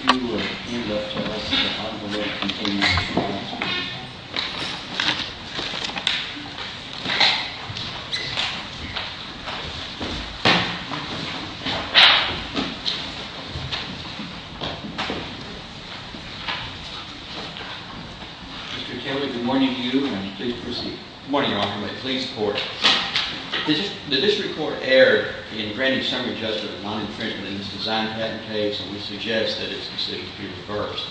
Mr. Taylor, good morning to you, and please proceed. Good morning, Your Honor. May it please the Court. The District Court erred in granting summary judgment of non-infringement in this design patent case, and we suggest that its decision be reversed.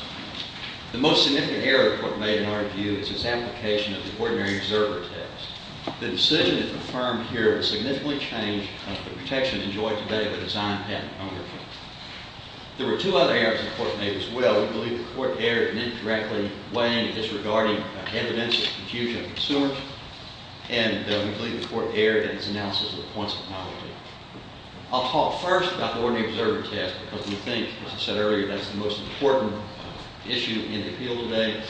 The most significant error the Court made in our view is its application of the ordinary observer test. The decision that is affirmed here is a significant change of the protection enjoyed today by the design patent owner. There were two other errors the Court made as well. We believe the Court erred in indirectly weighing and disregarding evidence of confusion of consumers, and we believe the Court erred in its analysis of the points of novelty. I'll talk first about the ordinary observer test because we think, as I said earlier, that's the most important issue in the appeal today,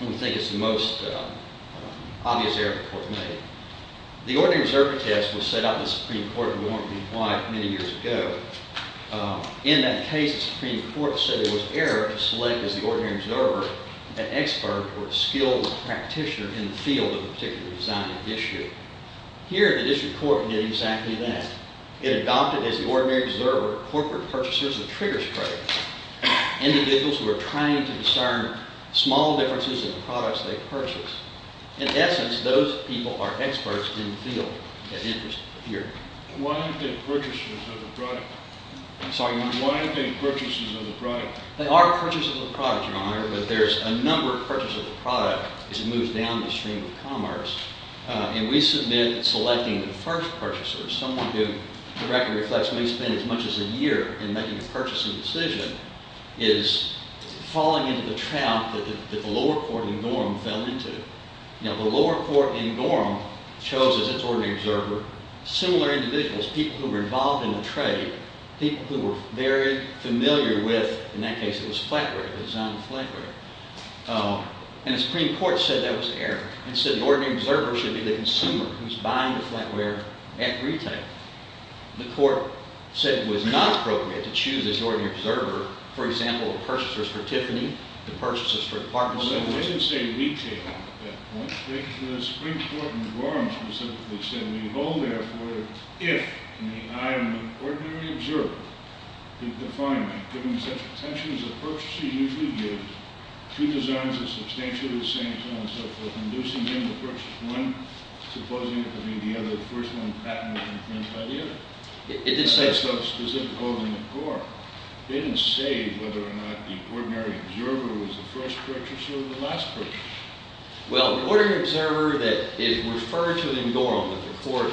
and we think it's the most obvious error the Court made. The ordinary observer test was set out in the Supreme Court when we wanted to be quiet many years ago. In that case, the Supreme Court said it was error to select as the ordinary observer an expert or a skilled practitioner in the field of a particular design issue. Here, the District Court did exactly that. It adopted as the ordinary observer corporate purchasers of triggers products, individuals who are trying to discern small differences in the products they purchase. In essence, those people are experts in the field. Why aren't they purchasers of the product? I'm sorry, Your Honor. Why aren't they purchasers of the product? They are purchasers of the product, Your Honor, but there's a number of purchasers of the product as it moves down the stream of commerce, and we submit selecting the first purchasers. Someone who, the record reflects, may spend as much as a year in making a purchasing decision is falling into the trap that the lower court in Dorham fell into. Now, the lower court in Dorham chose as its ordinary observer similar individuals, people who were involved in the trade, people who were very familiar with, in that case, it was flatware, the design of flatware. And the Supreme Court said that was error. It said the ordinary observer should be the consumer who's buying the flatware at retail. The court said it was not appropriate to choose as the ordinary observer, for example, the purchasers for Tiffany, the purchasers for Parkinson's. It didn't say retail at that point. The Supreme Court in Dorham specifically said, we hold, therefore, if in the eye of an ordinary observer, the definer, given such potential as a purchaser usually gives, two designs are substantially the same, so on and so forth, inducing him to purchase one, supposing it could be the other, the first one patented and claimed by the other. It didn't say so specifically in Dorham. It didn't say whether or not the ordinary observer was the first purchaser or the last purchaser. Well, the ordinary observer that is referred to in Dorham that the court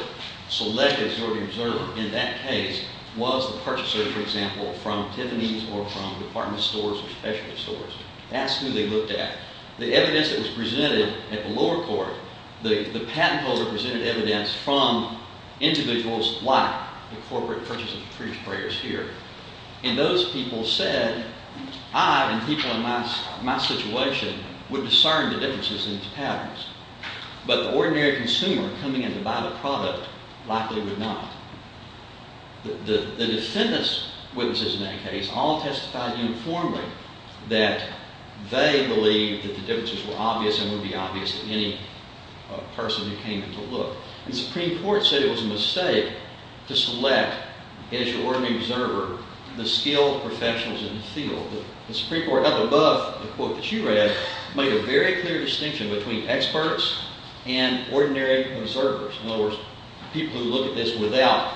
selected as the ordinary observer in that case was the purchaser, for example, from Tiffany's or from department stores or specialty stores. That's who they looked at. The evidence that was presented at the lower court, the patent holder presented evidence from individuals like the corporate purchasers of free prayers here. And those people said, I and people in my situation would discern the differences in these patterns, but the ordinary consumer coming in to buy the product likely would not. The defendants' witnesses in that case all testified uniformly that they believed that the differences were obvious and would be obvious to any person who came in to look. The Supreme Court said it was a mistake to select as your ordinary observer the skilled professionals in the field. The Supreme Court up above the quote that you read made a very clear distinction between experts and ordinary observers, in other words, people who look at this without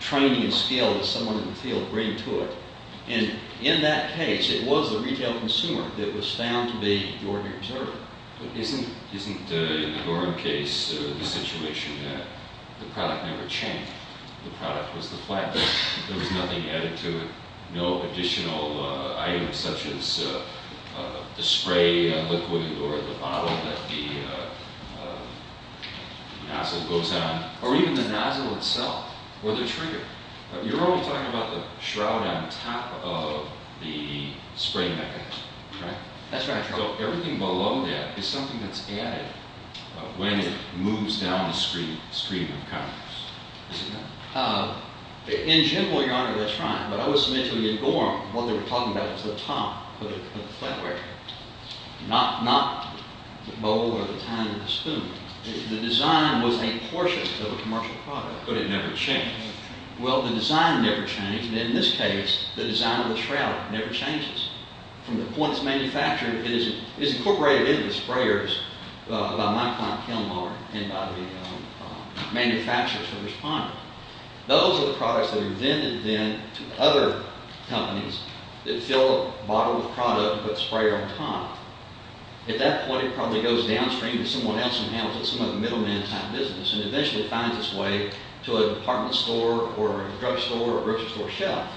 training and skill that someone in the field bring to it. And in that case, it was the retail consumer that was found to be the ordinary observer. Isn't in the Dorham case the situation that the product never changed? The product was the flatbed. There was nothing added to it, no additional items such as the spray liquid or the bottle that the nozzle goes on, or even the nozzle itself or the trigger. You're only talking about the shroud on top of the spray mechanism, right? That's right, Your Honor. So everything below that is something that's added when it moves down the screen of the counters. Is it not? In general, Your Honor, that's right. But I was mentioning in Dorham what they were talking about was the top of the flatware, not the bowl or the tiny spoon. The design was a portion of a commercial product. But it never changed. Well, the design never changed. And in this case, the design of the shroud never changes. From the point it's manufactured, it is incorporated into the sprayers by my client Kilmar and by the manufacturers who responded. Those are the products that are then invented to other companies that fill a bottle with product and put the sprayer on top. At that point, it probably goes downstream to someone else who handles it, some other middleman-type business, and eventually finds its way to a department store or a drugstore or a grocery store shelf.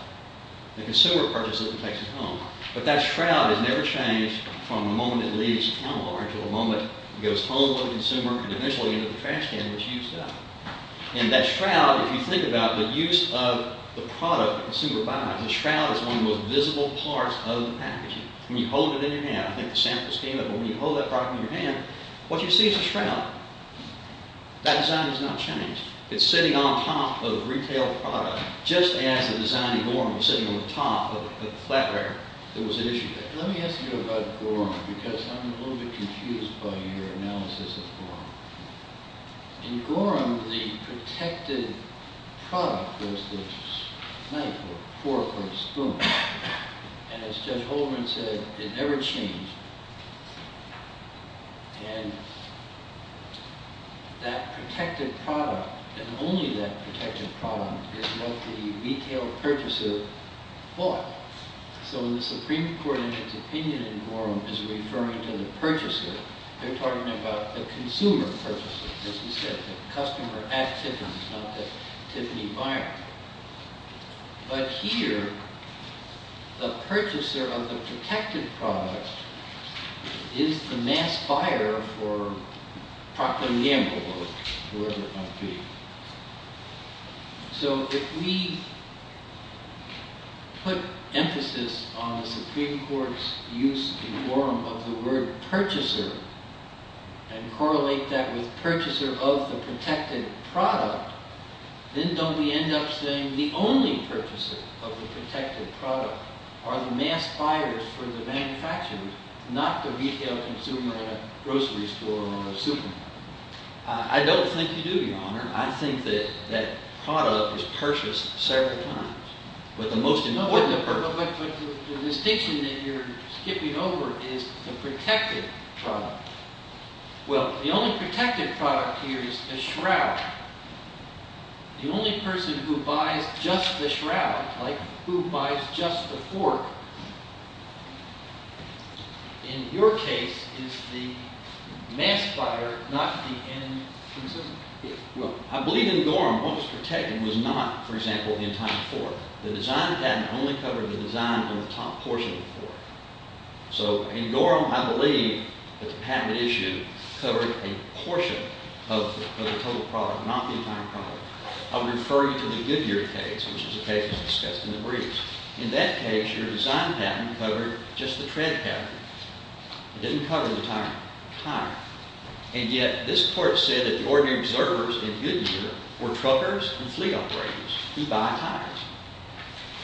The consumer purchases it and takes it home. But that shroud has never changed from the moment it leaves Kilmar to the moment it goes home with the consumer and eventually into the trash can which used up. And that shroud, if you think about the use of the product that the consumer buys, the shroud is one of the most visible parts of the packaging. When you hold it in your hand, I think the samples came up, but when you hold that product in your hand, what you see is a shroud. That design has not changed. It's sitting on top of retail product just as the design in Gorham was sitting on the top of the flatware that was at issue there. Let me ask you about Gorham because I'm a little bit confused by your analysis of Gorham. In Gorham, the protected product was this knife or fork or spoon. And as Judge Holdren said, it never changed. And that protected product and only that protected product is what the retail purchaser bought. So when the Supreme Court in its opinion in Gorham is referring to the purchaser, they're talking about the consumer purchaser, as he said, the customer at Tiffany's, not the Tiffany buyer. But here, the purchaser of the protected product is the mass buyer for Procter & Gamble or whoever it might be. So if we put emphasis on the Supreme Court's use in Gorham of the word purchaser and correlate that with purchaser of the protected product, then don't we end up saying the only purchaser of the protected product are the mass buyers for the manufacturers, not the retail consumer at a grocery store or a supermarket? I don't think you do, Your Honor. I think that that product was purchased several times with the most important person. No, but the distinction that you're skipping over is the protected product. Well, the only protected product here is the shroud. The only person who buys just the shroud, like who buys just the fork, in your case, is the mass buyer, not the end consumer. Well, I believe in Gorham, what was protected was not, for example, the entire fork. The design patent only covered the design on the top portion of the fork. So in Gorham, I believe that the patent issue covered a portion of the total product, not the entire product. I'm referring to the Goodyear case, which is a case that was discussed in the briefs. In that case, your design patent covered just the tread pattern. It didn't cover the tire. And yet this court said that the ordinary preservers in Goodyear were truckers and fleet operators who buy tires.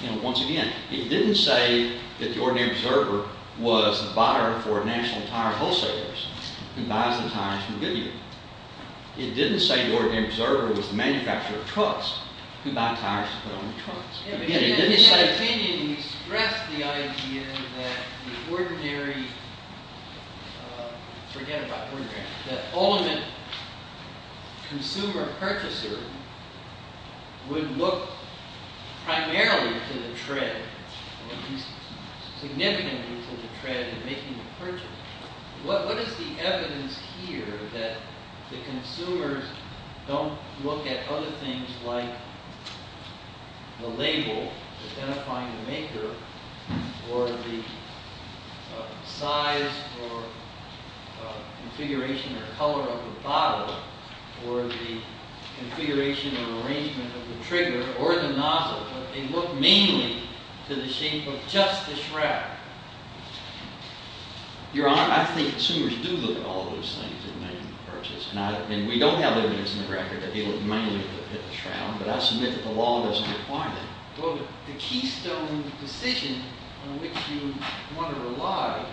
And once again, it didn't say that the ordinary preserver was the buyer for national tire wholesalers who buys the tires from Goodyear. It didn't say the ordinary preserver was the manufacturer of trucks who buy tires to put on the trucks. In his opinion, he stressed the idea that the ordinary, forget about ordinary, that ultimate consumer purchaser would look primarily to the tread, at least significantly to the tread in making the purchase. What is the evidence here that the consumers don't look at other things like the label identifying the maker or the size or configuration or color of the bottle or the configuration or arrangement of the trigger or the nozzle, but they look mainly to the shape of just the shrapnel? Your Honor, I think consumers do look at all those things in making the purchase. And we don't have evidence in the record that they look mainly at the shroud, but I submit that the law doesn't require that. Well, the keystone decision on which you want to rely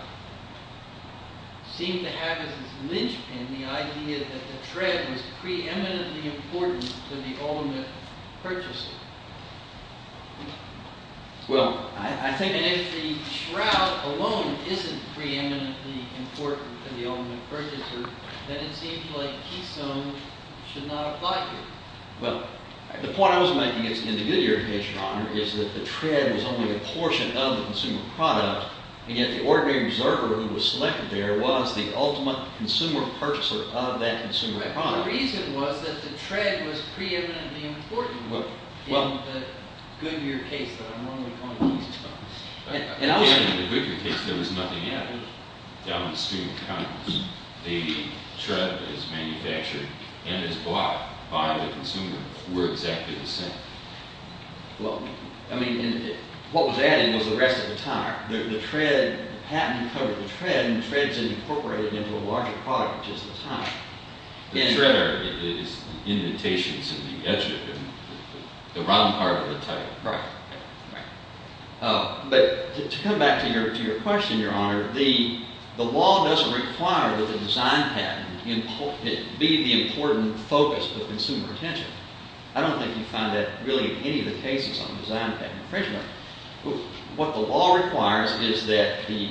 seemed to have as its linchpin the idea that the tread was preeminently important to the ultimate purchaser. And if the shroud alone isn't preeminently important to the ultimate purchaser, then it seems like the keystone should not apply here. Well, the point I was making in the Goodyear case, Your Honor, is that the tread was only a portion of the consumer product, and yet the ordinary preserver who was selected there was the ultimate consumer purchaser of that consumer product. My reason was that the tread was preeminently important in the Goodyear case, but I'm only pointing to these two. And in the Goodyear case, there was nothing added down the stream of confidence. The tread is manufactured and is bought by the consumer for exactly the same. Well, I mean, what was added was the rest of the tire. The tread, the patent covered the tread, and the tread is incorporated into a larger product, which is the tire. The tread is the indentations in the edge of the round part of the tire. Right. But to come back to your question, Your Honor, the law doesn't require that the design patent be the important focus of consumer attention. I don't think you find that really in any of the cases on design patent infringement. What the law requires is that the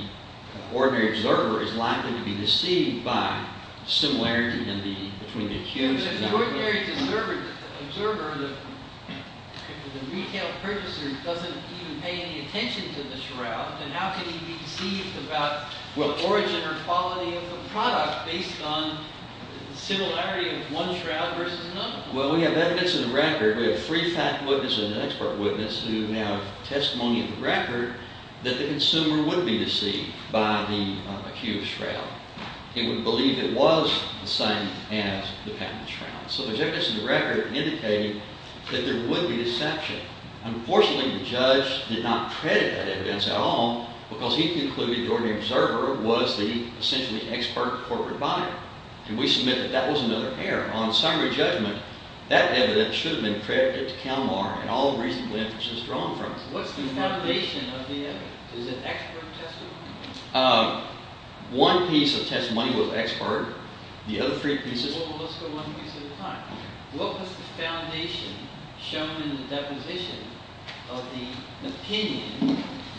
ordinary observer is likely to be deceived by similarity between the accused and the… But if the ordinary observer, the retail purchaser, doesn't even pay any attention to the shroud, then how can he be deceived about the origin or quality of the product based on similarity of one shroud versus another? Well, we have evidence in the record. We have three fact witnesses and an expert witness who now have testimony in the record that the consumer would be deceived by the accused shroud. They would believe it was the same as the patent shroud. So there's evidence in the record indicating that there would be deception. Unfortunately, the judge did not credit that evidence at all because he concluded the ordinary observer was the essentially expert corporate buyer. And we submit that that was another error. On summary judgment, that evidence should have been credited to Kalmar and all reasonable inferences drawn from it. What's the foundation of the evidence? Is it expert testimony? One piece of testimony was expert. The other three pieces… Well, let's go one piece at a time. What was the foundation shown in the deposition of the opinion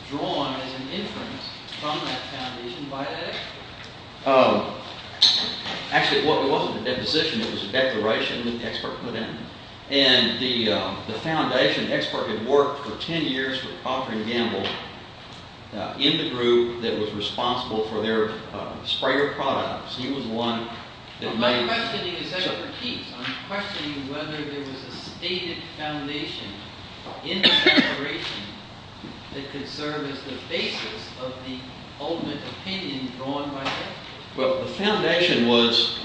drawn as an inference from that foundation by that expert? Actually, it wasn't a deposition. It was a declaration that the expert put in. And the foundation expert had worked for ten years for Procter & Gamble in the group that was responsible for their sprayer products. My questioning is expertise. I'm questioning whether there was a stated foundation in the declaration that could serve as the basis of the ultimate opinion drawn by that expert. Well, the foundation was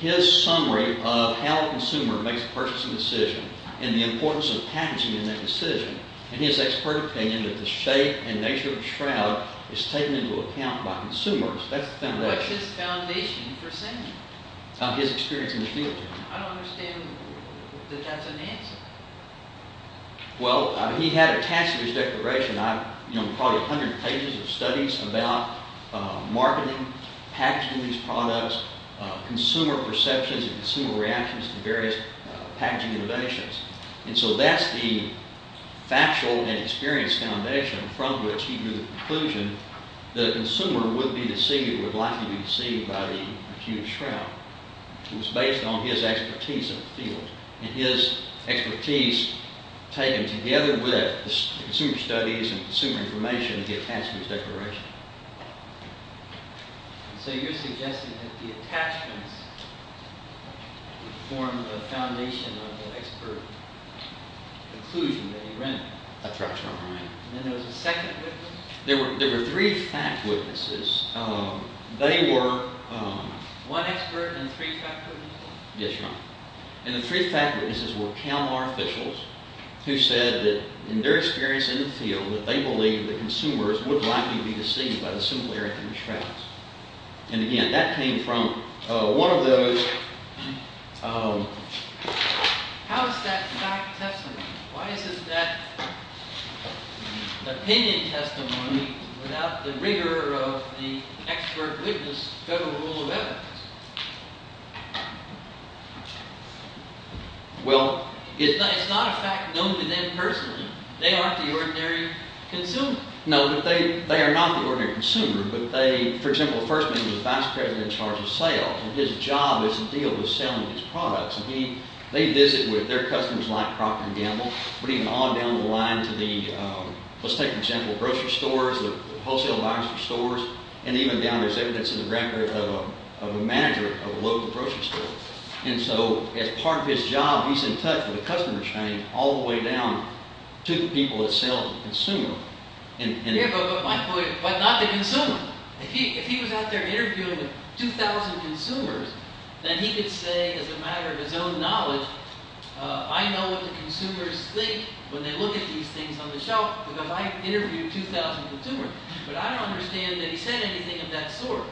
his summary of how a consumer makes a purchasing decision and the importance of packaging in that decision. And his expert opinion that the shape and nature of the shroud is taken into account by consumers. That's the foundation. What's his foundation for saying that? His experience in the field. I don't understand that that's an answer. Well, he had attached to his declaration probably a hundred pages of studies about marketing, packaging these products, consumer perceptions and consumer reactions to various packaging innovations. And so that's the factual and experience foundation from which he drew the conclusion that the consumer would be deceived, would likely be deceived by the Acuna Shroud. It was based on his expertise in the field. And his expertise taken together with consumer studies and consumer information, he attached to his declaration. So you're suggesting that the attachments form the foundation of the expert conclusion that he ran. That's right. And then there was a second? There were three fact witnesses. They were… One expert and three fact witnesses? Yes, Your Honor. And the three fact witnesses were Kalmar officials who said that in their experience in the field, that they believed that consumers would likely be deceived by the simple Arachnid Shrouds. And again, that came from one of those… How is that fact tested? Why isn't that opinion testimony without the rigor of the expert witness federal rule of evidence? Well, it's not a fact known to them personally. They aren't the ordinary consumer. No, but they are not the ordinary consumer. But they, for example, the first man was the vice president in charge of sales. And his job is to deal with selling these products. And they visit with their customers like crop and gamble. But even on down the line to the… Let's take the example of grocery stores, the wholesale lines for stores. And even down there is evidence in the record of a manager of a local grocery store. And so as part of his job, he's in touch with the customer chain all the way down to the people that sell to the consumer. Yeah, but not the consumer. If he was out there interviewing 2,000 consumers, then he could say as a matter of his own knowledge, I know what the consumers think when they look at these things on the shelf because I interviewed 2,000 consumers. But I don't understand that he said anything of that sort.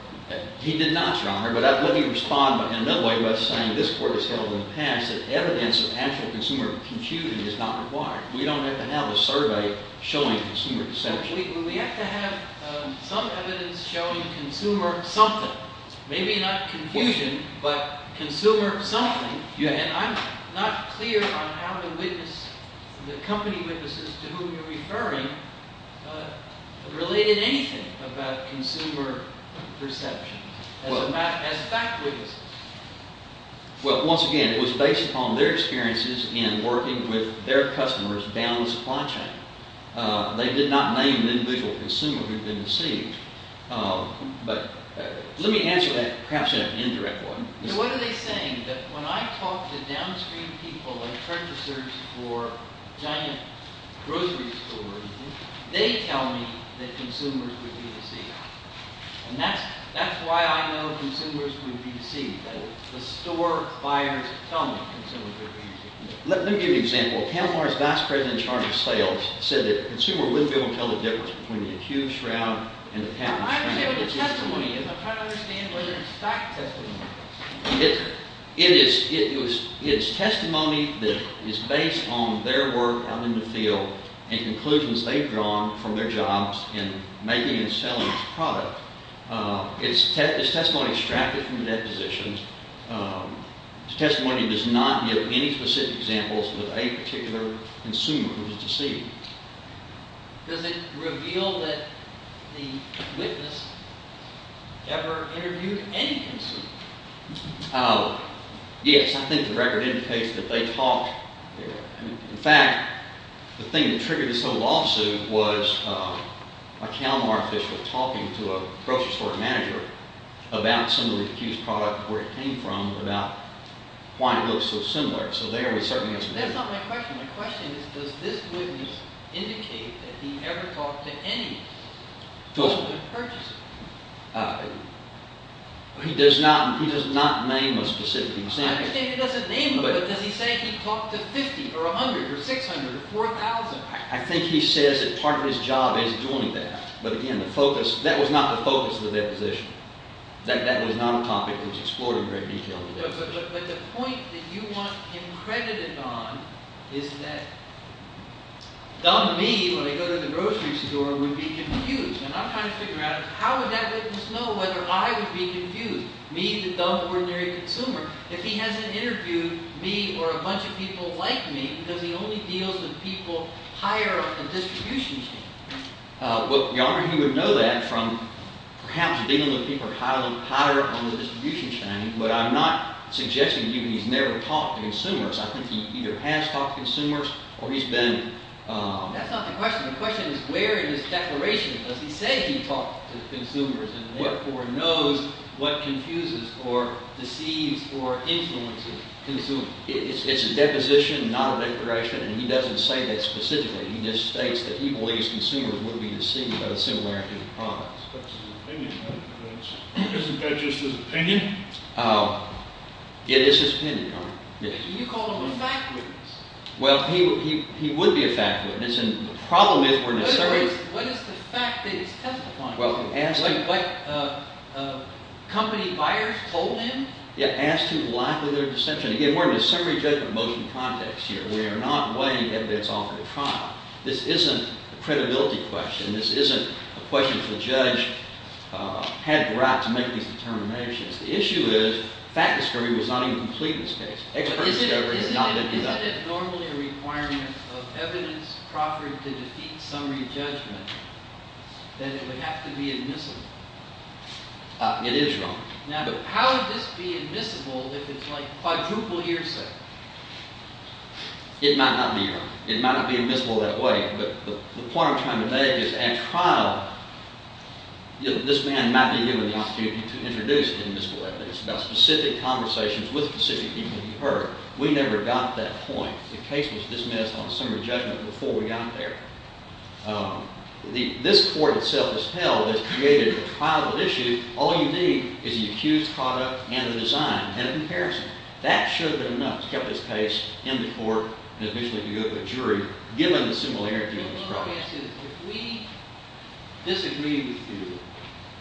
He did not, Your Honor. But let me respond in another way by saying this court has held in the past that evidence of actual consumer computing is not required. We don't have to have a survey showing consumer deception. We have to have some evidence showing consumer something. Maybe not confusion, but consumer something. And I'm not clear on how to witness the company witnesses to whom you're referring related anything about consumer perception as fact witnesses. Well, once again, it was based upon their experiences in working with their customers down the supply chain. They did not name the individual consumer who'd been deceived. But let me answer that perhaps in an indirect way. What are they saying? That when I talk to downstream people and purchasers for giant grocery stores, they tell me that consumers would be deceived. And that's why I know consumers would be deceived. The store buyers tell me consumers would be deceived. Let me give you an example. Kalmar's vice president in charge of sales said that a consumer wouldn't be able to tell the difference between the accused shroud and the patent. I'm saying the testimony, if I'm trying to understand whether it's fact testimony. It is testimony that is based on their work out in the field and conclusions they've drawn from their jobs in making and selling product. It's testimony extracted from the depositions. The testimony does not give any specific examples of a particular consumer who was deceived. Does it reveal that the witness ever interviewed any consumer? Yes. I think the record indicates that they talked. In fact, the thing that triggered this whole lawsuit was a Kalmar official talking to a grocery store manager about some of the accused product, where it came from, about why it looks so similar. So there we certainly have some evidence. That's not my question. My question is does this witness indicate that he ever talked to any purchaser? He does not name a specific example. I understand he doesn't name them, but does he say he talked to 50 or 100 or 600 or 4,000? I think he says that part of his job is doing that. But again, that was not the focus of the deposition. That was not a topic that was explored in great detail. But the point that you want him credited on is that dumb me, when I go to the grocery store, would be confused. And I'm trying to figure out how would that witness know whether I would be confused? Me, the dumb, ordinary consumer. If he hasn't interviewed me or a bunch of people like me, does he only deal with people higher on the distribution chain? Well, Your Honor, he would know that from perhaps dealing with people higher on the distribution chain. But I'm not suggesting to you that he's never talked to consumers. I think he either has talked to consumers or he's been – That's not the question. The question is where in his declaration does he say he talked to consumers? And therefore knows what confuses or deceives or influences consumers. It's a deposition, not a declaration. And he doesn't say that specifically. He just states that he believes consumers would be deceived by the similarity of products. That's his opinion. Isn't that just his opinion? It is his opinion, Your Honor. You called him a fact witness. Well, he would be a fact witness. And the problem is we're necessarily – What is the fact that he's testifying? What company buyers told him? Yeah, as to the lack of their dissension. Again, we're in a summary judgment motion context here. We are not weighing evidence off of the trial. This isn't a credibility question. This isn't a question for the judge had the right to make these determinations. The issue is fact discovery was not even complete in this case. Expert discovery is not going to do that. Isn't it normally a requirement of evidence proffered to defeat summary judgment that it would have to be admissible? It is, Your Honor. Now, how would this be admissible if it's like quadruple hearsay? It might not be, Your Honor. It might not be admissible that way. But the point I'm trying to make is at trial, this man might be given the opportunity to introduce admissible evidence. It's about specific conversations with specific people he heard. We never got that point. The case was dismissed on a summary judgment before we got there. This court itself has held, has created a trial issue. All you need is the accused product and the design and a comparison. That should have been enough to get this case in the court and eventually to go to a jury, given the similarity of those products. My guess is if we disagree with you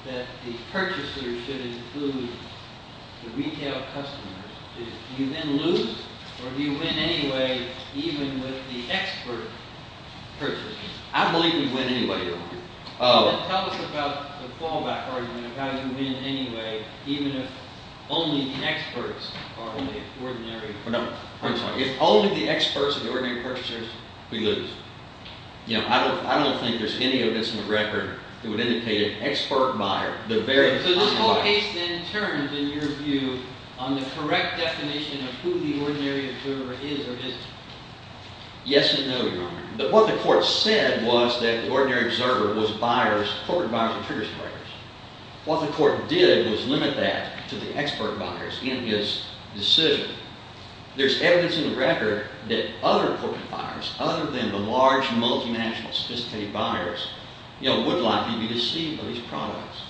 that the purchasers should include the retail customers, do you then lose or do you win anyway, even with the expert purchasers? I believe we win anyway, Your Honor. Then tell us about the fallback argument of how you win anyway, even if only the experts are ordinary purchasers. If only the experts are ordinary purchasers, we lose. I don't think there's any evidence in the record that would indicate an expert buyer. So this whole case then turns, in your view, on the correct definition of who the ordinary observer is or isn't. Yes and no, Your Honor. What the court said was that the ordinary observer was corporate buyers of triggers and records. What the court did was limit that to the expert buyers in his decision. There's evidence in the record that other corporate buyers, other than the large, multi-national, sophisticated buyers, would likely be deceived by these products.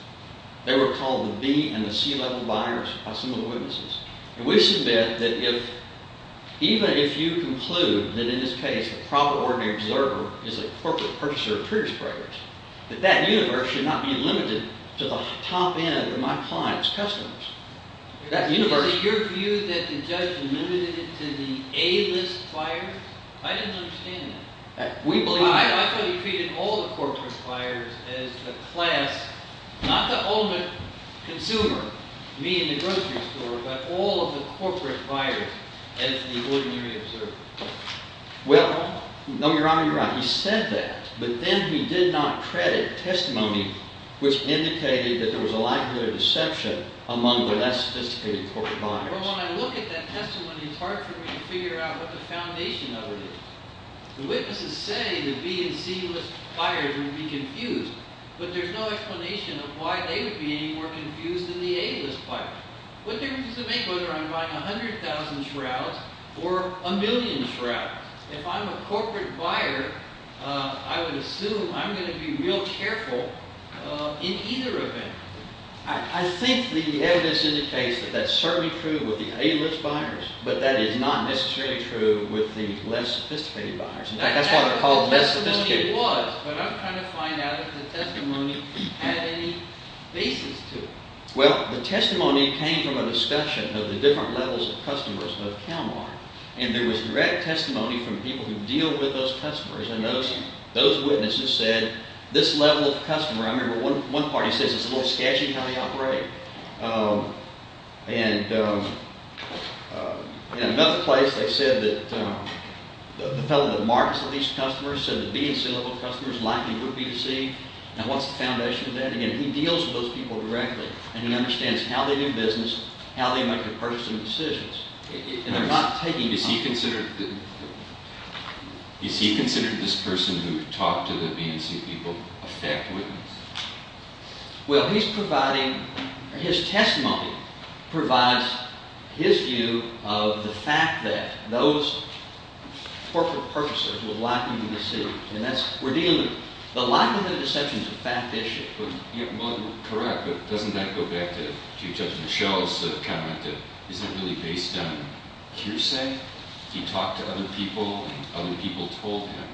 They were called the B- and the C-level buyers by some of the witnesses. And we submit that even if you conclude that in this case the proper ordinary observer is a corporate purchaser of trigger sprayers, that that universe should not be limited to the top end of my client's customers. Is it your view that the judge limited it to the A-list buyers? I didn't understand that. I thought he treated all the corporate buyers as the class, not the ultimate consumer, me in the grocery store, but all of the corporate buyers as the ordinary observer. Well, no, Your Honor, you're right. He said that, but then he did not credit testimony which indicated that there was a likelihood of deception among the less sophisticated corporate buyers. Well, when I look at that testimony, it's hard for me to figure out what the foundation of it is. The witnesses say the B- and C-list buyers would be confused, but there's no explanation of why they would be any more confused than the A-list buyers. What difference does it make whether I'm buying 100,000 shrouds or a million shrouds? If I'm a corporate buyer, I would assume I'm going to be real careful in either event. I think the evidence indicates that that's certainly true with the A-list buyers, but that is not necessarily true with the less sophisticated buyers. In fact, that's why they're called less sophisticated. The testimony was, but I'm trying to find out if the testimony had any basis to it. Well, the testimony came from a discussion of the different levels of customers of CalMart, and there was direct testimony from people who deal with those customers, and those witnesses said this level of customer – I remember one party says it's a little sketchy how they operate. And in another place, they said that the fellow that markets with these customers said the B- and C-level customers likely would be deceived. Now, what's the foundation of that? Again, he deals with those people directly, and he understands how they do business, how they make their purchasing decisions. And they're not taking – Is he considered this person who talked to the B- and C-people a fact witness? Well, he's providing – his testimony provides his view of the fact that those corporate purchasers were likely to be deceived. And that's – we're dealing – the likelihood of deception is a fact issue. Well, correct, but doesn't that go back to Judge Michel's comment that isn't really based on hearsay? He talked to other people, and other people told him.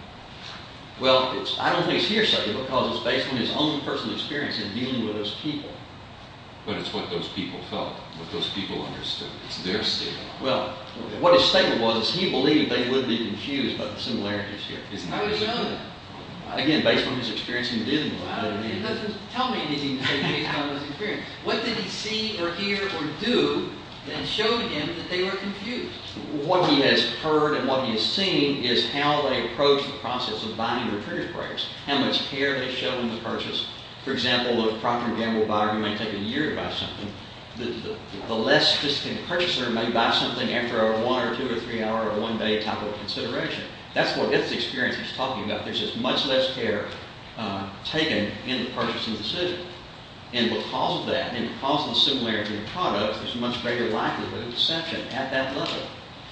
Well, I don't think it's hearsay because it's based on his own personal experience in dealing with those people. But it's what those people felt, what those people understood. It's their statement. Well, what his statement was is he believed they would be confused by the similarities here. How would he know that? Again, based on his experience in dealing with them. It doesn't tell me anything to say based on his experience. What did he see or hear or do that showed him that they were confused? What he has heard and what he has seen is how they approach the process of buying or purchase products, how much care they show in the purchase. For example, a property gamble buyer may take a year to buy something. The less sophisticated purchaser may buy something after a one-hour, two-hour, three-hour, or one-day type of consideration. That's what his experience is talking about. There's just much less care taken in the purchasing decision. And because of that, and because of the similarity in the products, there's a much greater likelihood of deception at that level.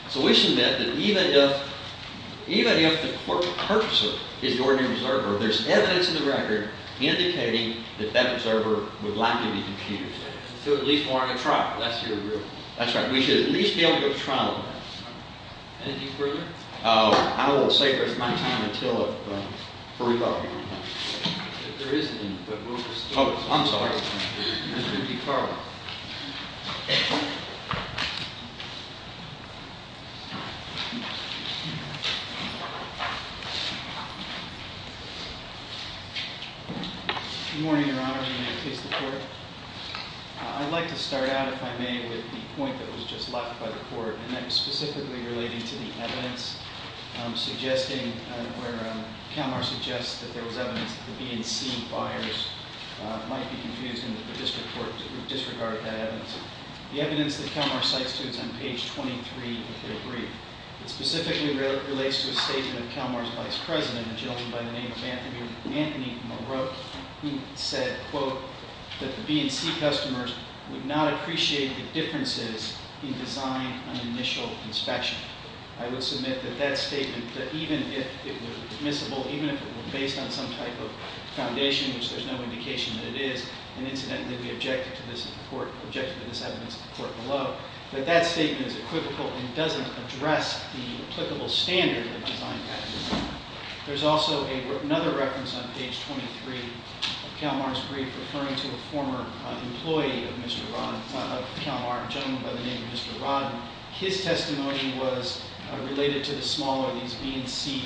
So we submit that even if the purchaser is the ordinary observer, there's evidence in the record indicating that that observer would likely be confused. So at least warrant a trial. That's your agreement. That's right. We should at least be able to go to trial on that. Anything further? Oh, I will say there's not time until if we're talking on time. If there isn't any, but we'll just do it. Oh, I'm sorry. Good morning, Your Honor. May I please report? I'd like to start out, if I may, with the point that was just left by the court. And that was specifically relating to the evidence suggesting where CalMAR suggests that there was evidence that the B&C buyers might be confused and that the district court disregarded that evidence. The evidence that CalMAR cites to us on page 23 of the brief specifically relates to a statement of CalMAR's vice president, a gentleman by the name of Anthony Marotte, who said, quote, that the B&C customers would not appreciate the differences in design on initial inspection. I would submit that that statement, that even if it were admissible, even if it were based on some type of foundation, which there's no indication that it is, and incidentally we objected to this in court, objected to this evidence in court below, that that statement is equivocal and doesn't address the applicable standard of design practice. There's also another reference on page 23 of CalMAR's brief referring to a former employee of CalMAR, a gentleman by the name of Mr. Rodden. His testimony was related to the smaller, these B&C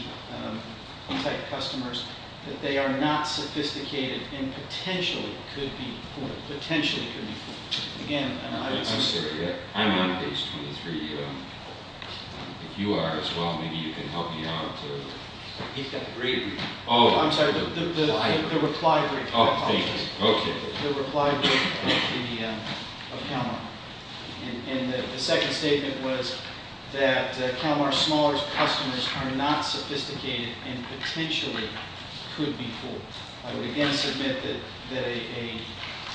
type customers, that they are not sophisticated and potentially could be poor, potentially could be poor. I'm sorry, I'm on page 23. If you are as well, maybe you can help me out. He's got the brief. Oh, I'm sorry, the reply brief. Oh, thank you. Okay. The reply brief of CalMAR. And the second statement was that CalMAR's smaller customers are not sophisticated and potentially could be poor. I would again submit that a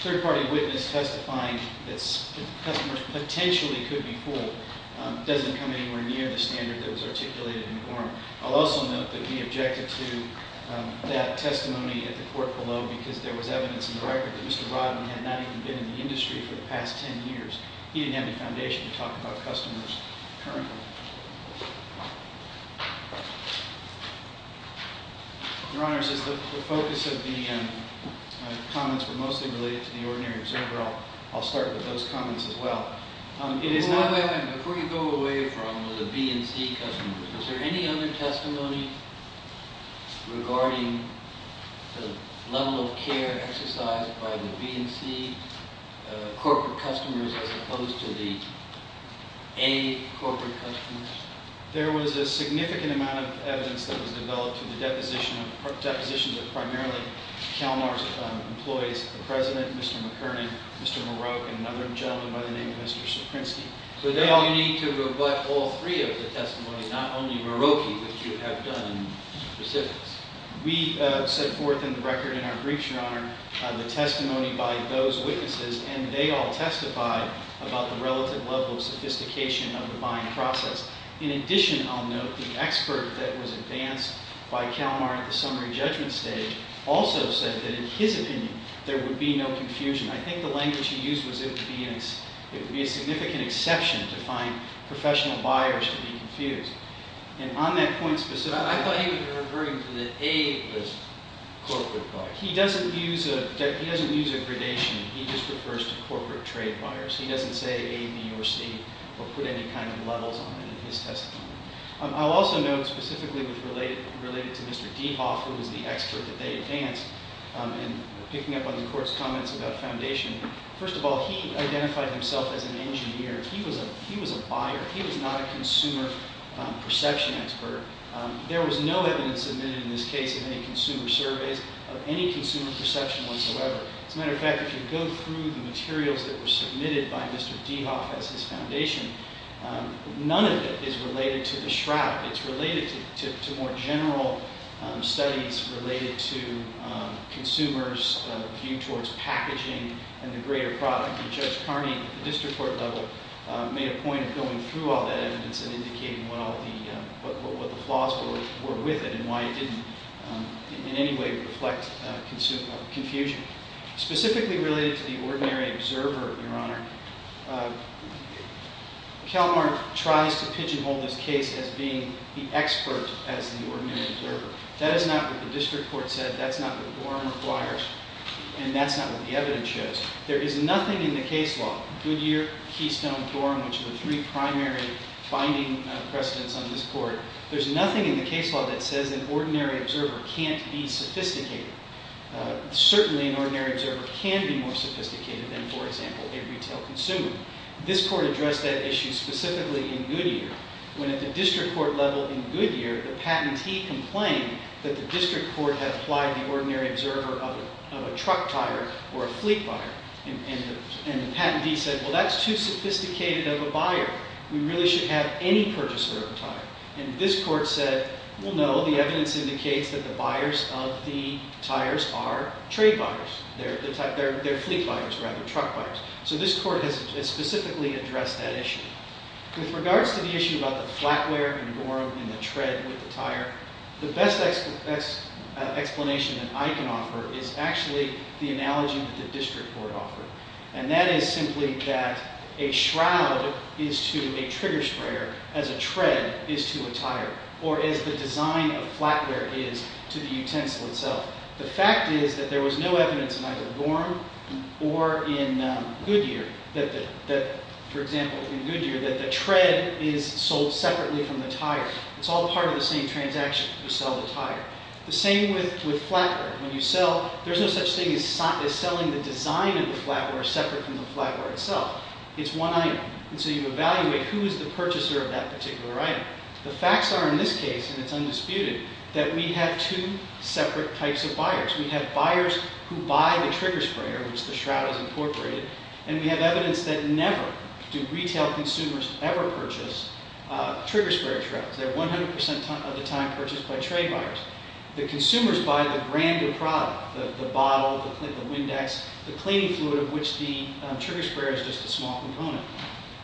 third-party witness testifying that customers potentially could be poor doesn't come anywhere near the standard that was articulated in Gorham. I'll also note that we objected to that testimony at the court below because there was evidence in the record that Mr. Rodden had not even been in the industry for the past 10 years. He didn't have the foundation to talk about customers currently. Your Honor, it's just that the focus of the comments were mostly related to the ordinary observer. I'll start with those comments as well. Before you go away from the B and C customers, was there any other testimony regarding the level of care exercised by the B and C corporate customers as opposed to the A corporate customers? There was a significant amount of evidence that was developed to the deposition of primarily CalMAR's employees, the President, Mr. McKernan, Mr. Maroque, and another gentleman by the name of Mr. Saprinsky. So now you need to rebut all three of the testimonies, not only Maroque, which you have done in recipients. We set forth in the record in our briefs, Your Honor, the testimony by those witnesses, and they all testified about the relative level of sophistication of the buying process. In addition, I'll note the expert that was advanced by CalMAR at the summary judgment stage also said that in his opinion there would be no confusion. I think the language he used was it would be a significant exception to find professional buyers to be confused. I thought he was referring to the A as corporate buyers. He doesn't use a gradation. He just refers to corporate trade buyers. He doesn't say A, B, or C or put any kind of levels on it in his testimony. I'll also note specifically related to Mr. Dehoff, who was the expert that they advanced in picking up on the Court's comments about foundation. First of all, he identified himself as an engineer. He was a buyer. He was not a consumer perception expert. There was no evidence submitted in this case of any consumer surveys of any consumer perception whatsoever. As a matter of fact, if you go through the materials that were submitted by Mr. Dehoff as his foundation, none of it is related to the shroud. It's related to more general studies related to consumers' view towards packaging and the greater product. I think Judge Carney at the district court level made a point of going through all that evidence and indicating what the flaws were with it and why it didn't in any way reflect confusion. Specifically related to the ordinary observer, Your Honor, Kalmar tries to pigeonhole this case as being the expert as the ordinary observer. That is not what the district court said. That's not what Gorham requires. And that's not what the evidence shows. There is nothing in the case law, Goodyear, Keystone, Gorham, which are the three primary finding precedents on this Court, there's nothing in the case law that says an ordinary observer can't be sophisticated. Certainly an ordinary observer can be more sophisticated than, for example, a retail consumer. This Court addressed that issue specifically in Goodyear, when at the district court level in Goodyear, the patentee complained that the district court had applied the ordinary observer of a truck tire or a fleet tire. And the patentee said, well, that's too sophisticated of a buyer. We really should have any purchaser of a tire. And this Court said, well, no, the evidence indicates that the buyers of the tires are trade buyers. They're fleet buyers rather than truck buyers. So this Court has specifically addressed that issue. With regards to the issue about the flatware in Gorham and the tread with the tire, the best explanation that I can offer is actually the analogy that the district court offered. And that is simply that a shroud is to a trigger sprayer as a tread is to a tire, or as the design of flatware is to the utensil itself. The fact is that there was no evidence in either Gorham or in Goodyear that, for example, in Goodyear, that the tread is sold separately from the tire. It's all part of the same transaction to sell the tire. The same with flatware. When you sell, there's no such thing as selling the design of the flatware separate from the flatware itself. It's one item. And so you evaluate who is the purchaser of that particular item. The facts are in this case, and it's undisputed, that we have two separate types of buyers. We have buyers who buy the trigger sprayer, which the shroud is incorporated, and we have evidence that never do retail consumers ever purchase trigger sprayer shrouds. They're 100 percent of the time purchased by trade buyers. The consumers buy the brand new product, the bottle, the Windex, the cleaning fluid of which the trigger sprayer is just a small component.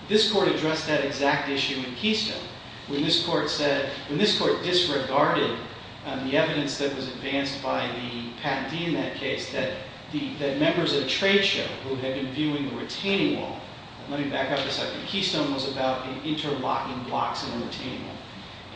This Court addressed that exact issue in Keystone. When this Court disregarded the evidence that was advanced by the patentee in that case, that members of the trade show who had been viewing the retaining wall Let me back up a second. Keystone was about interlocking blocks in a retaining wall,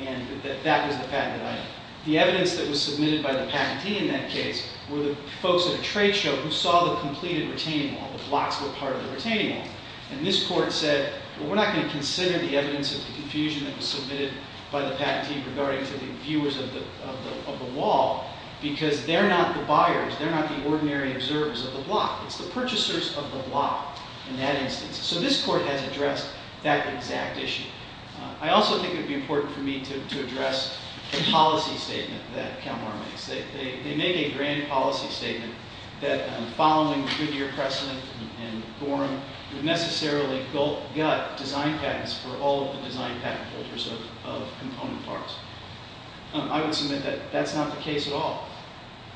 and that that was the patented item. The evidence that was submitted by the patentee in that case were the folks at a trade show who saw the completed retaining wall. The blocks were part of the retaining wall. And this Court said, well, we're not going to consider the evidence of the confusion that was submitted by the patentee regarding to the viewers of the wall, because they're not the buyers. They're not the ordinary observers of the block. It's the purchasers of the block in that instance. So this Court has addressed that exact issue. I also think it would be important for me to address the policy statement that Kalmar makes. They make a grand policy statement that following the Goodyear precedent and Gorham, would necessarily gut design patents for all of the design patent holders of component parts. I would submit that that's not the case at all.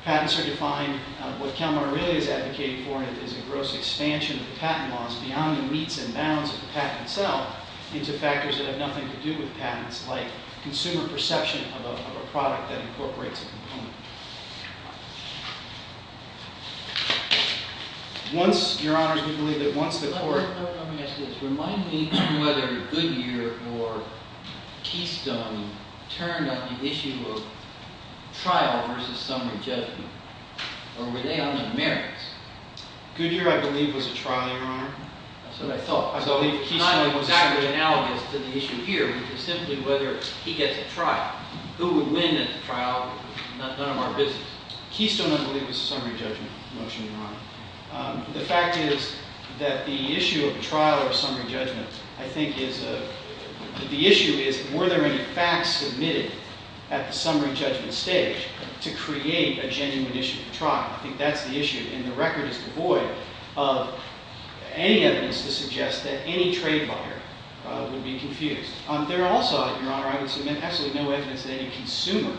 Patents are defined, what Kalmar really is advocating for is a gross expansion of the patent laws beyond the meets and bounds of the patent itself into factors that have nothing to do with patents, like consumer perception of a product that incorporates a component. Once, Your Honor, do you believe that once the Court... Let me ask you this. Remind me whether Goodyear or Keystone turned on the issue of trial versus summary judgment. Or were they on the merits? Goodyear, I believe, was a trial, Your Honor. That's what I thought. I believe Keystone was... It's not exactly analogous to the issue here, which is simply whether he gets a trial. Who would win at the trial? None of our business. Keystone, I believe, was a summary judgment motion, Your Honor. The fact is that the issue of trial or summary judgment, I think, is... The issue is were there any facts submitted at the summary judgment stage to create a genuine issue of trial. I think that's the issue. And the record is devoid of any evidence to suggest that any trade lawyer would be confused. There are also, Your Honor, I would submit absolutely no evidence that any consumer,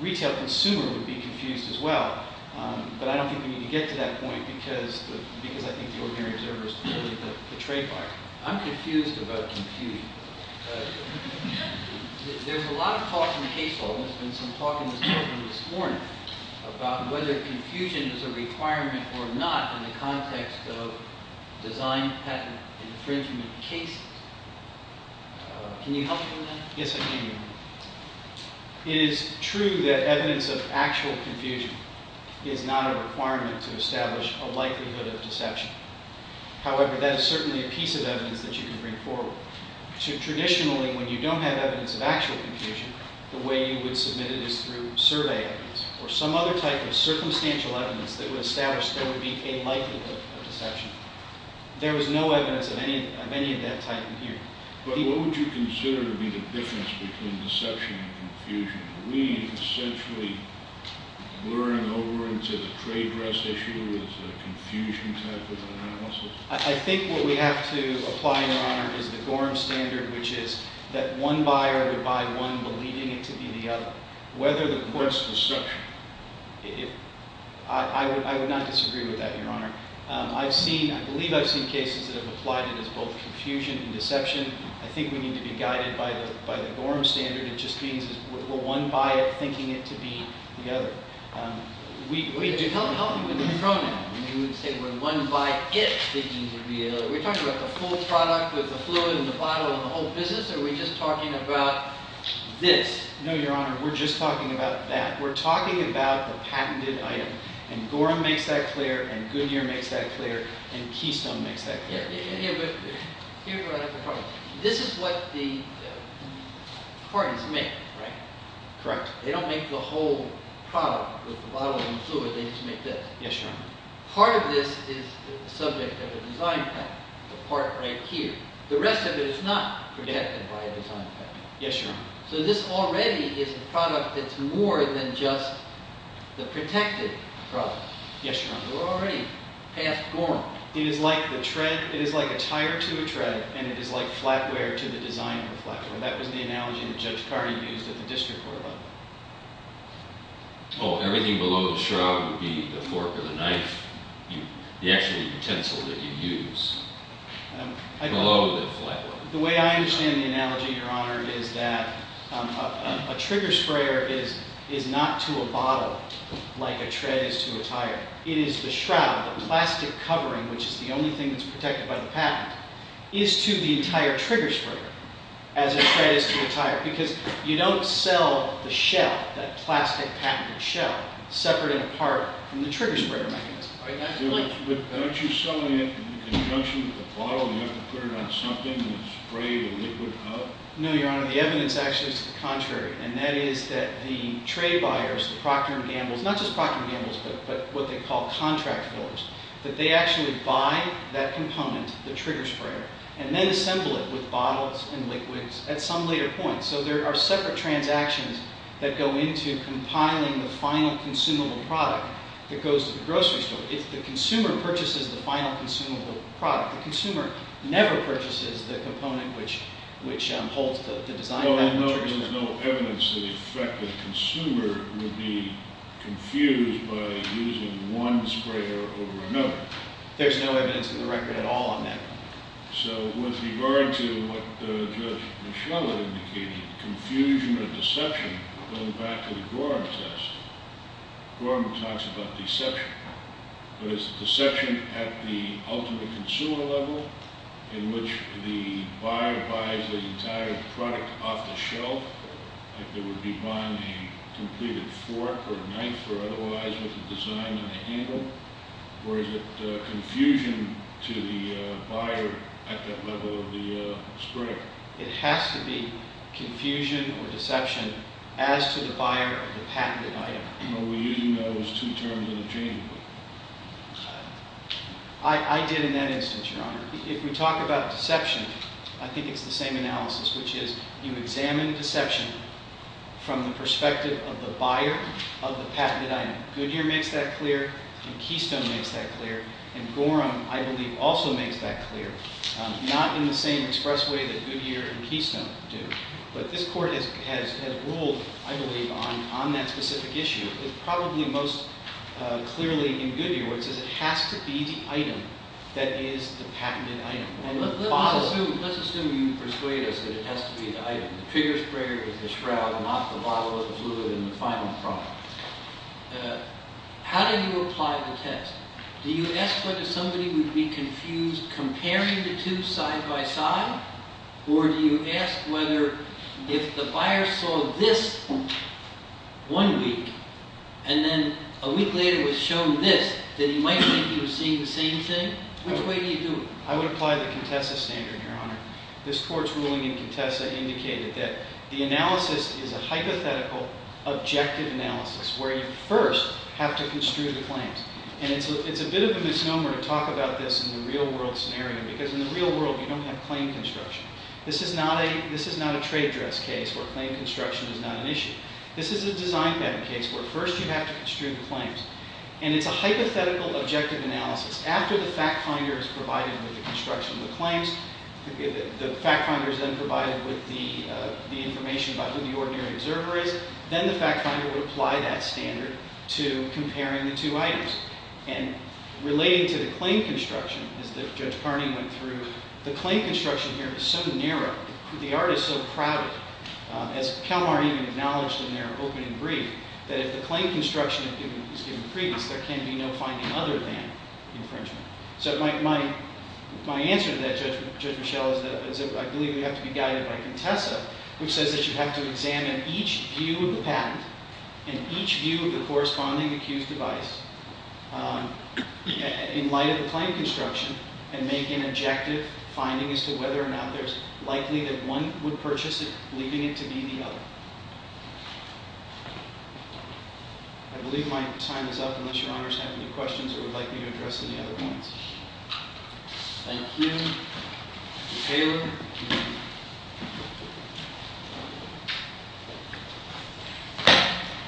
retail consumer, would be confused as well. But I don't think we need to get to that point because I think the ordinary observer is clearly the trade lawyer. I'm confused about confusion. There's a lot of talk in the case hall, and there's been some talk in the courtroom this morning, about whether confusion is a requirement or not in the context of design patent infringement cases. Can you help me with that? Yes, I can, Your Honor. It is true that evidence of actual confusion is not a requirement to establish a likelihood of deception. However, that is certainly a piece of evidence that you can bring forward. Traditionally, when you don't have evidence of actual confusion, the way you would submit it is through survey evidence or some other type of circumstantial evidence that would establish there would be a likelihood of deception. There was no evidence of any of that type in here. But what would you consider to be the difference between deception and confusion? Are we essentially blurring over into the trade dress issue as a confusion type of analysis? I think what we have to apply, Your Honor, is the Gorham Standard, which is that one buyer would buy one believing it to be the other. Whether the court's deception, I would not disagree with that, Your Honor. I believe I've seen cases that have applied it as both confusion and deception. I think we need to be guided by the Gorham Standard. It just means we're one buyer thinking it to be the other. Help me with the pronoun. You would say we're one buyer thinking it to be the other. Are we talking about the full product with the fluid and the bottle and the whole business, or are we just talking about this? No, Your Honor, we're just talking about that. We're talking about the patented item. And Gorham makes that clear, and Goodyear makes that clear, and Keystone makes that clear. Here's where I have a problem. This is what the parties make, right? Correct. They don't make the whole product with the bottle and the fluid. They just make this. Yes, Your Honor. Part of this is the subject of a design patent, the part right here. The rest of it is not protected by a design patent. Yes, Your Honor. So this already is a product that's more than just the protected product. Yes, Your Honor. We're already past Gorham. It is like the tread. It is like a tire to a tread, and it is like flatware to the designer flatware. That was the analogy that Judge Cardi used at the district court level. Oh, everything below the shroud would be the fork or the knife, the actual utensil that you use. Below the flatware. The way I understand the analogy, Your Honor, is that a trigger sprayer is not to a bottle like a tread is to a tire. It is the shroud, the plastic covering, which is the only thing that's protected by the patent, is to the entire trigger sprayer as a tread is to a tire because you don't sell the shell, that plastic patented shell, separate and apart from the trigger sprayer mechanism. Aren't you selling it in conjunction with the bottle and you have to put it on something and spray the liquid up? No, Your Honor. The evidence actually is the contrary, and that is that the trade buyers, the Procter & Gamble, not just Procter & Gamble but what they call contract fillers, that they actually buy that component, the trigger sprayer, and then assemble it with bottles and liquids at some later point. So there are separate transactions that go into compiling the final consumable product that goes to the grocery store. If the consumer purchases the final consumable product, the consumer never purchases the component which holds the design patent. No, there's no evidence to the effect that the consumer would be confused by using one sprayer over another. There's no evidence in the record at all on that. So with regard to what Judge Mischella indicated, confusion or deception, going back to the Gorham test, Gorham talks about deception. But is it deception at the ultimate consumer level in which the buyer buys the entire product off the shelf, like they would be buying a completed fork or knife or otherwise with the design on the handle, or is it confusion to the buyer at that level of the sprayer? It has to be confusion or deception as to the buyer of the patented item. Are we using those two terms interchangeably? I did in that instance, Your Honor. If we talk about deception, I think it's the same analysis, which is you examine deception from the perspective of the buyer of the patented item. Goodyear makes that clear and Keystone makes that clear, and Gorham, I believe, also makes that clear, not in the same express way that Goodyear and Keystone do. But this Court has ruled, I believe, on that specific issue. It probably most clearly in Goodyear where it says it has to be the item that is the patented item. Let's assume you persuade us that it has to be the item. The figure sprayer is the shroud, not the bottle of the fluid in the final product. How do you apply the test? Do you ask whether somebody would be confused comparing the two side by side, or do you ask whether if the buyer saw this one week and then a week later was shown this, then he might think he was seeing the same thing? Which way do you do it? I would apply the Contessa standard, Your Honor. This Court's ruling in Contessa indicated that the analysis is a hypothetical objective analysis where you first have to construe the claims. And it's a bit of a misnomer to talk about this in the real-world scenario because in the real world you don't have claim construction. This is not a trade dress case where claim construction is not an issue. This is a design patent case where first you have to construe the claims. And it's a hypothetical objective analysis. After the fact finder is provided with the construction of the claims, the fact finder is then provided with the information about who the ordinary observer is, then the fact finder would apply that standard to comparing the two items. And relating to the claim construction, as Judge Carney went through, the claim construction here is so narrow, the artist is so crowded, as Calamari even acknowledged in their opening brief, that if the claim construction is given previous, there can be no finding other than infringement. So my answer to that, Judge Michelle, is that I believe you have to be guided by Contessa, which says that you have to examine each view of the patent and each view of the corresponding accused device in light of the claim construction and make an objective finding as to whether or not there's likely that one would purchase it, leaving it to be the other. I believe my time is up, unless Your Honor has any questions or would like me to address any other points. Thank you. Mr. Taylor.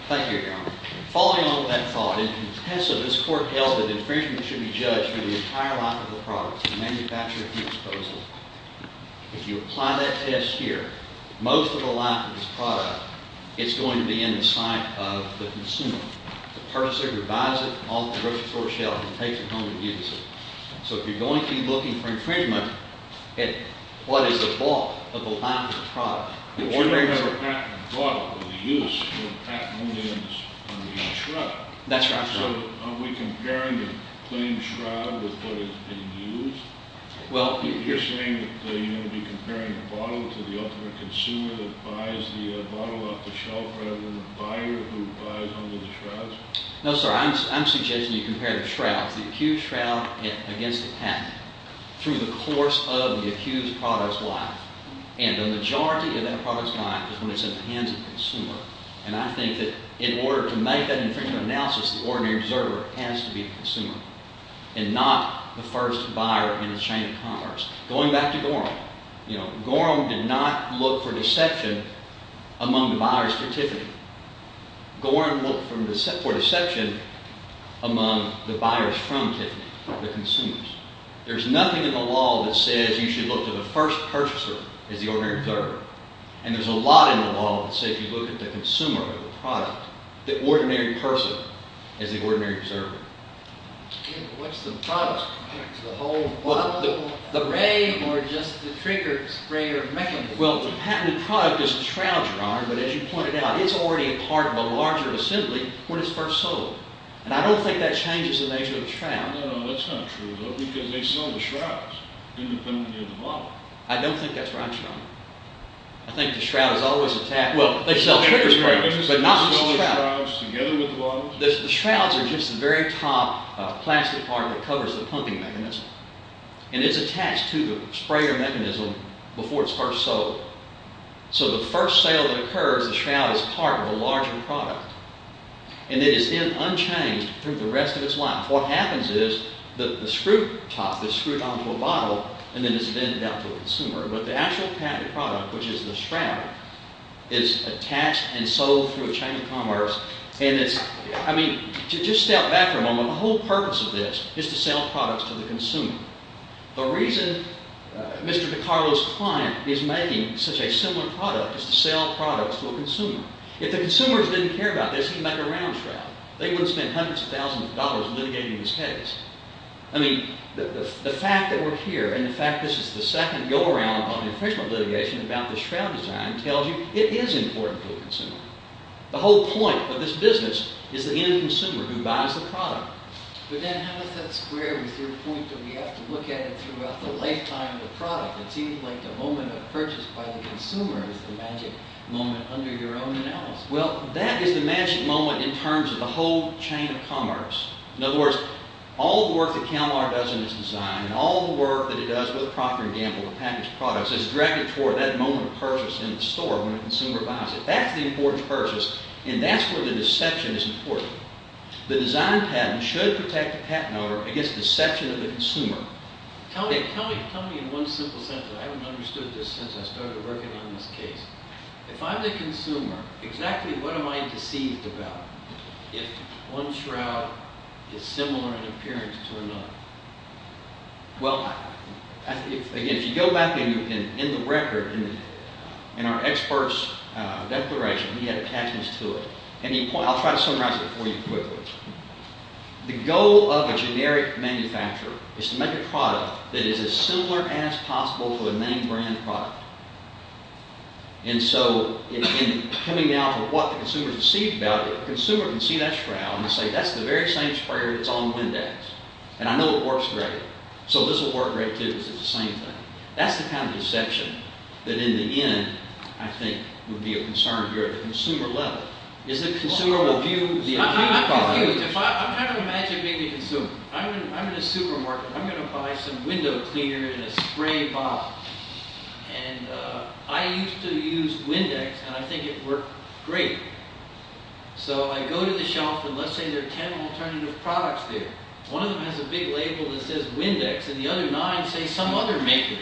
Thank you, Your Honor. Following on from that thought, in Contessa, this court held that infringement should be judged for the entire lack of the product, the manufacturer, and the disposal. If you apply that test here, most of the lack of this product, it's going to be in the sight of the consumer. The purchaser buys it off the grocery store shelf and takes it home and uses it. So if you're going to be looking for infringement, what is the fault of the lack of the product? That's right. So are we comparing the plain shroud with what has been used? You're saying that you're going to be comparing the bottle to the ultimate consumer that buys the bottle off the shelf rather than the buyer who buys under the shrouds? No, sir. I'm suggesting you compare the shrouds, the accused shroud against the patent, through the course of the accused product's life. And the majority of that product's life is when it's in the hands of the consumer. And I think that in order to make that infringement analysis, the ordinary observer has to be the consumer and not the first buyer in the chain of commerce. Going back to Gorham, you know, Gorham did not look for deception among the buyers for Tiffany. Gorham looked for deception among the buyers from Tiffany, the consumers. There's nothing in the law that says you should look to the first purchaser as the ordinary observer. And there's a lot in the law that say if you look at the consumer of the product, the ordinary person is the ordinary observer. What's the product? The whole bottle? The ray or just the trigger sprayer mechanism? Well, the patented product is the shroud, Your Honor, but as you pointed out, it's already a part of a larger assembly when it's first sold. And I don't think that changes the nature of the shroud. No, that's not true, though, because they sell the shrouds independently of the bottle. I don't think that's right, Your Honor. I think the shroud is always attached. Well, they sell trigger sprayers, but not just the shroud. The shrouds are just the very top plastic part that covers the pumping mechanism, and it's attached to the sprayer mechanism before it's first sold. So the first sale that occurs, the shroud is part of a larger product, and it is then unchanged through the rest of its life. What happens is the screw top is screwed onto a bottle, and then it's then dealt to the consumer. But the actual patented product, which is the shroud, is attached and sold through a chain of commerce. And it's, I mean, to just step back for a moment, the whole purpose of this is to sell products to the consumer. The reason Mr. DiCarlo's client is making such a similar product is to sell products to a consumer. If the consumers didn't care about this, he'd make a round shroud. They wouldn't spend hundreds of thousands of dollars litigating this case. I mean, the fact that we're here, and the fact that this is the second go-around on the infringement litigation about the shroud design tells you it is important to the consumer. The whole point of this business is the end consumer who buys the product. But then how does that square with your point that we have to look at it throughout the lifetime of the product? It seems like the moment of purchase by the consumer is the magic moment under your own analysis. Well, that is the magic moment in terms of the whole chain of commerce. In other words, all the work that Cal-Mar does in its design and all the work that it does with Procter & Gamble and packaged products is directed toward that moment of purchase in the store when a consumer buys it. That's the important purchase, and that's where the deception is important. The design patent should protect the patent owner against deception of the consumer. Tell me in one simple sentence. I haven't understood this since I started working on this case. If I'm the consumer, exactly what am I deceived about if one shroud is similar in appearance to another? Well, again, if you go back in the record, in our expert's declaration, he had a package to it. I'll try to summarize it for you quickly. The goal of a generic manufacturer is to make a product that is as similar as possible to a main brand product. And so in coming down to what the consumer is deceived about it, the consumer can see that shroud and say, that's the very same sprayer that's on Windex, and I know it works great. So this will work great too, because it's the same thing. That's the kind of deception that in the end, I think, would be a concern here at the consumer level, is that the consumer will view the actual product... I'm confused. I'm trying to imagine being the consumer. I'm in a supermarket. I'm going to buy some window cleaner and a spray bottle, and I used to use Windex, and I think it worked great. So I go to the shelf, and let's say there are ten alternative products there. One of them has a big label that says Windex, and the other nine say some other maker.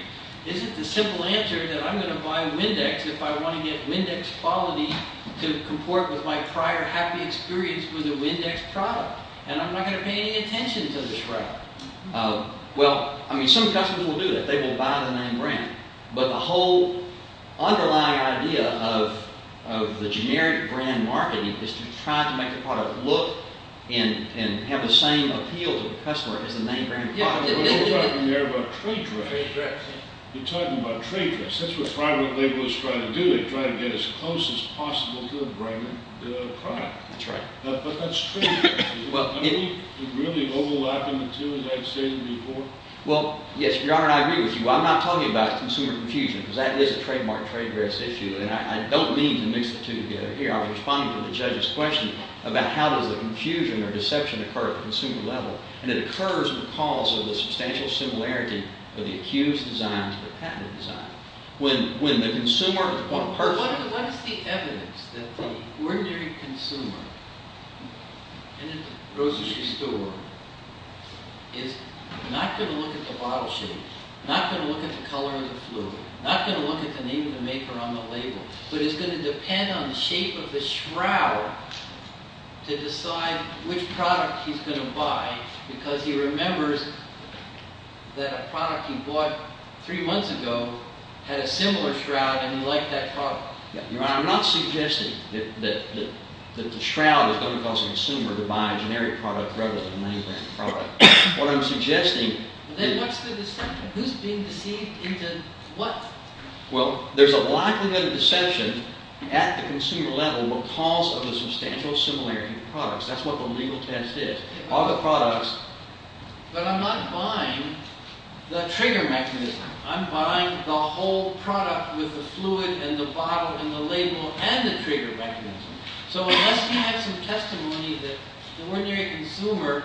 Is it the simple answer that I'm going to buy Windex if I want to get Windex quality to comport with my prior happy experience with a Windex product, and I'm not going to pay any attention to the shroud? Well, I mean, some customers will do that. They will buy the name brand, but the whole underlying idea of the generic brand marketing is to try to make the product look and have the same appeal to the customer as the name brand product. You're talking there about trade dress. You're talking about trade dress. That's what private labelers try to do. They try to get as close as possible to the brand, the product. That's right. But that's trade dress. Do they really overlap in the two, as I've stated before? Well, yes, Your Honor, I agree with you. I'm not talking about consumer confusion, because that is a trademark trade dress issue, and I don't mean to mix the two together here. I was responding to the judge's question about how does the confusion or deception occur at the consumer level, and it occurs because of the substantial similarity of the accused's design to the patented design. When the consumer or the person... What is the evidence that the ordinary consumer in a grocery store is not going to look at the bottle shape, not going to look at the color of the fluid, not going to look at the name of the maker on the label, but is going to depend on the shape of the shroud to decide which product he's going to buy, because he remembers that a product he bought three months ago had a similar shroud, and he liked that product. Your Honor, I'm not suggesting that the shroud is going to cause the consumer to buy a generic product rather than a money-grant product. What I'm suggesting... Then what's the deception? Who's being deceived into what? Well, there's a likelihood of deception at the consumer level what calls for the substantial similarity of the products. That's what the legal test is. All the products... But I'm not buying the trigger mechanism. I'm buying the whole product with the fluid and the bottle and the label and the trigger mechanism. So unless you have some testimony that the ordinary consumer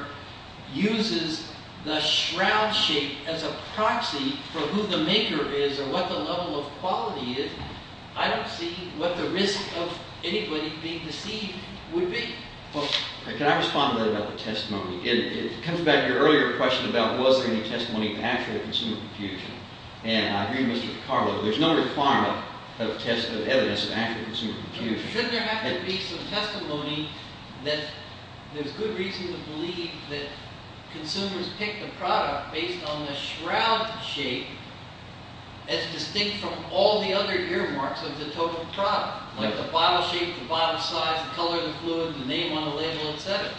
uses the shroud shape as a proxy for who the maker is or what the level of quality is, I don't see what the risk of anybody being deceived would be. Can I respond to that about the testimony? It comes back to your earlier question about was there any testimony of actual consumer confusion. And I agree with Mr. Picardo. There's no requirement of evidence of actual consumer confusion. Shouldn't there have to be some testimony that there's good reason to believe that consumers pick the product based on the shroud shape as distinct from all the other earmarks of the total product, like the bottle shape, the bottle size, the color of the fluid, the name on the label, et cetera?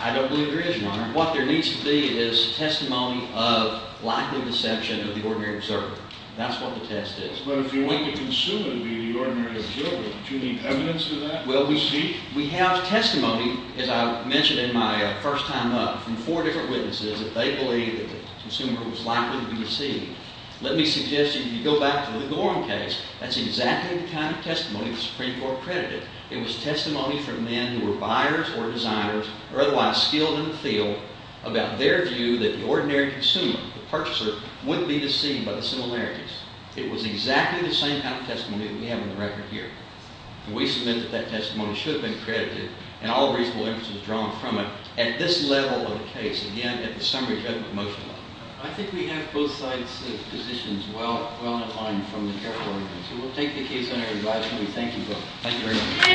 I don't believe there is, Your Honor. What there needs to be is testimony of likely deception of the ordinary observer. That's what the test is. But if you want the consumer to be the ordinary observer, don't you need evidence of that to be deceived? Well, we have testimony, as I mentioned in my first time up, from four different witnesses that they believed that the consumer was likely to be deceived. Let me suggest if you go back to the Gorham case, that's exactly the kind of testimony the Supreme Court credited. It was testimony from men who were buyers or designers or otherwise skilled in the field about their view that the ordinary consumer, the purchaser, wouldn't be deceived by the similarities. It was exactly the same kind of testimony that we have on the record here. And we submit that that testimony should have been credited and all reasonable evidence was drawn from it at this level of the case, again, at the summary judgment motion level. I think we have both sides of the positions well in line from the careful evidence. We'll take the case under review. I just want to thank you both. Thank you very much.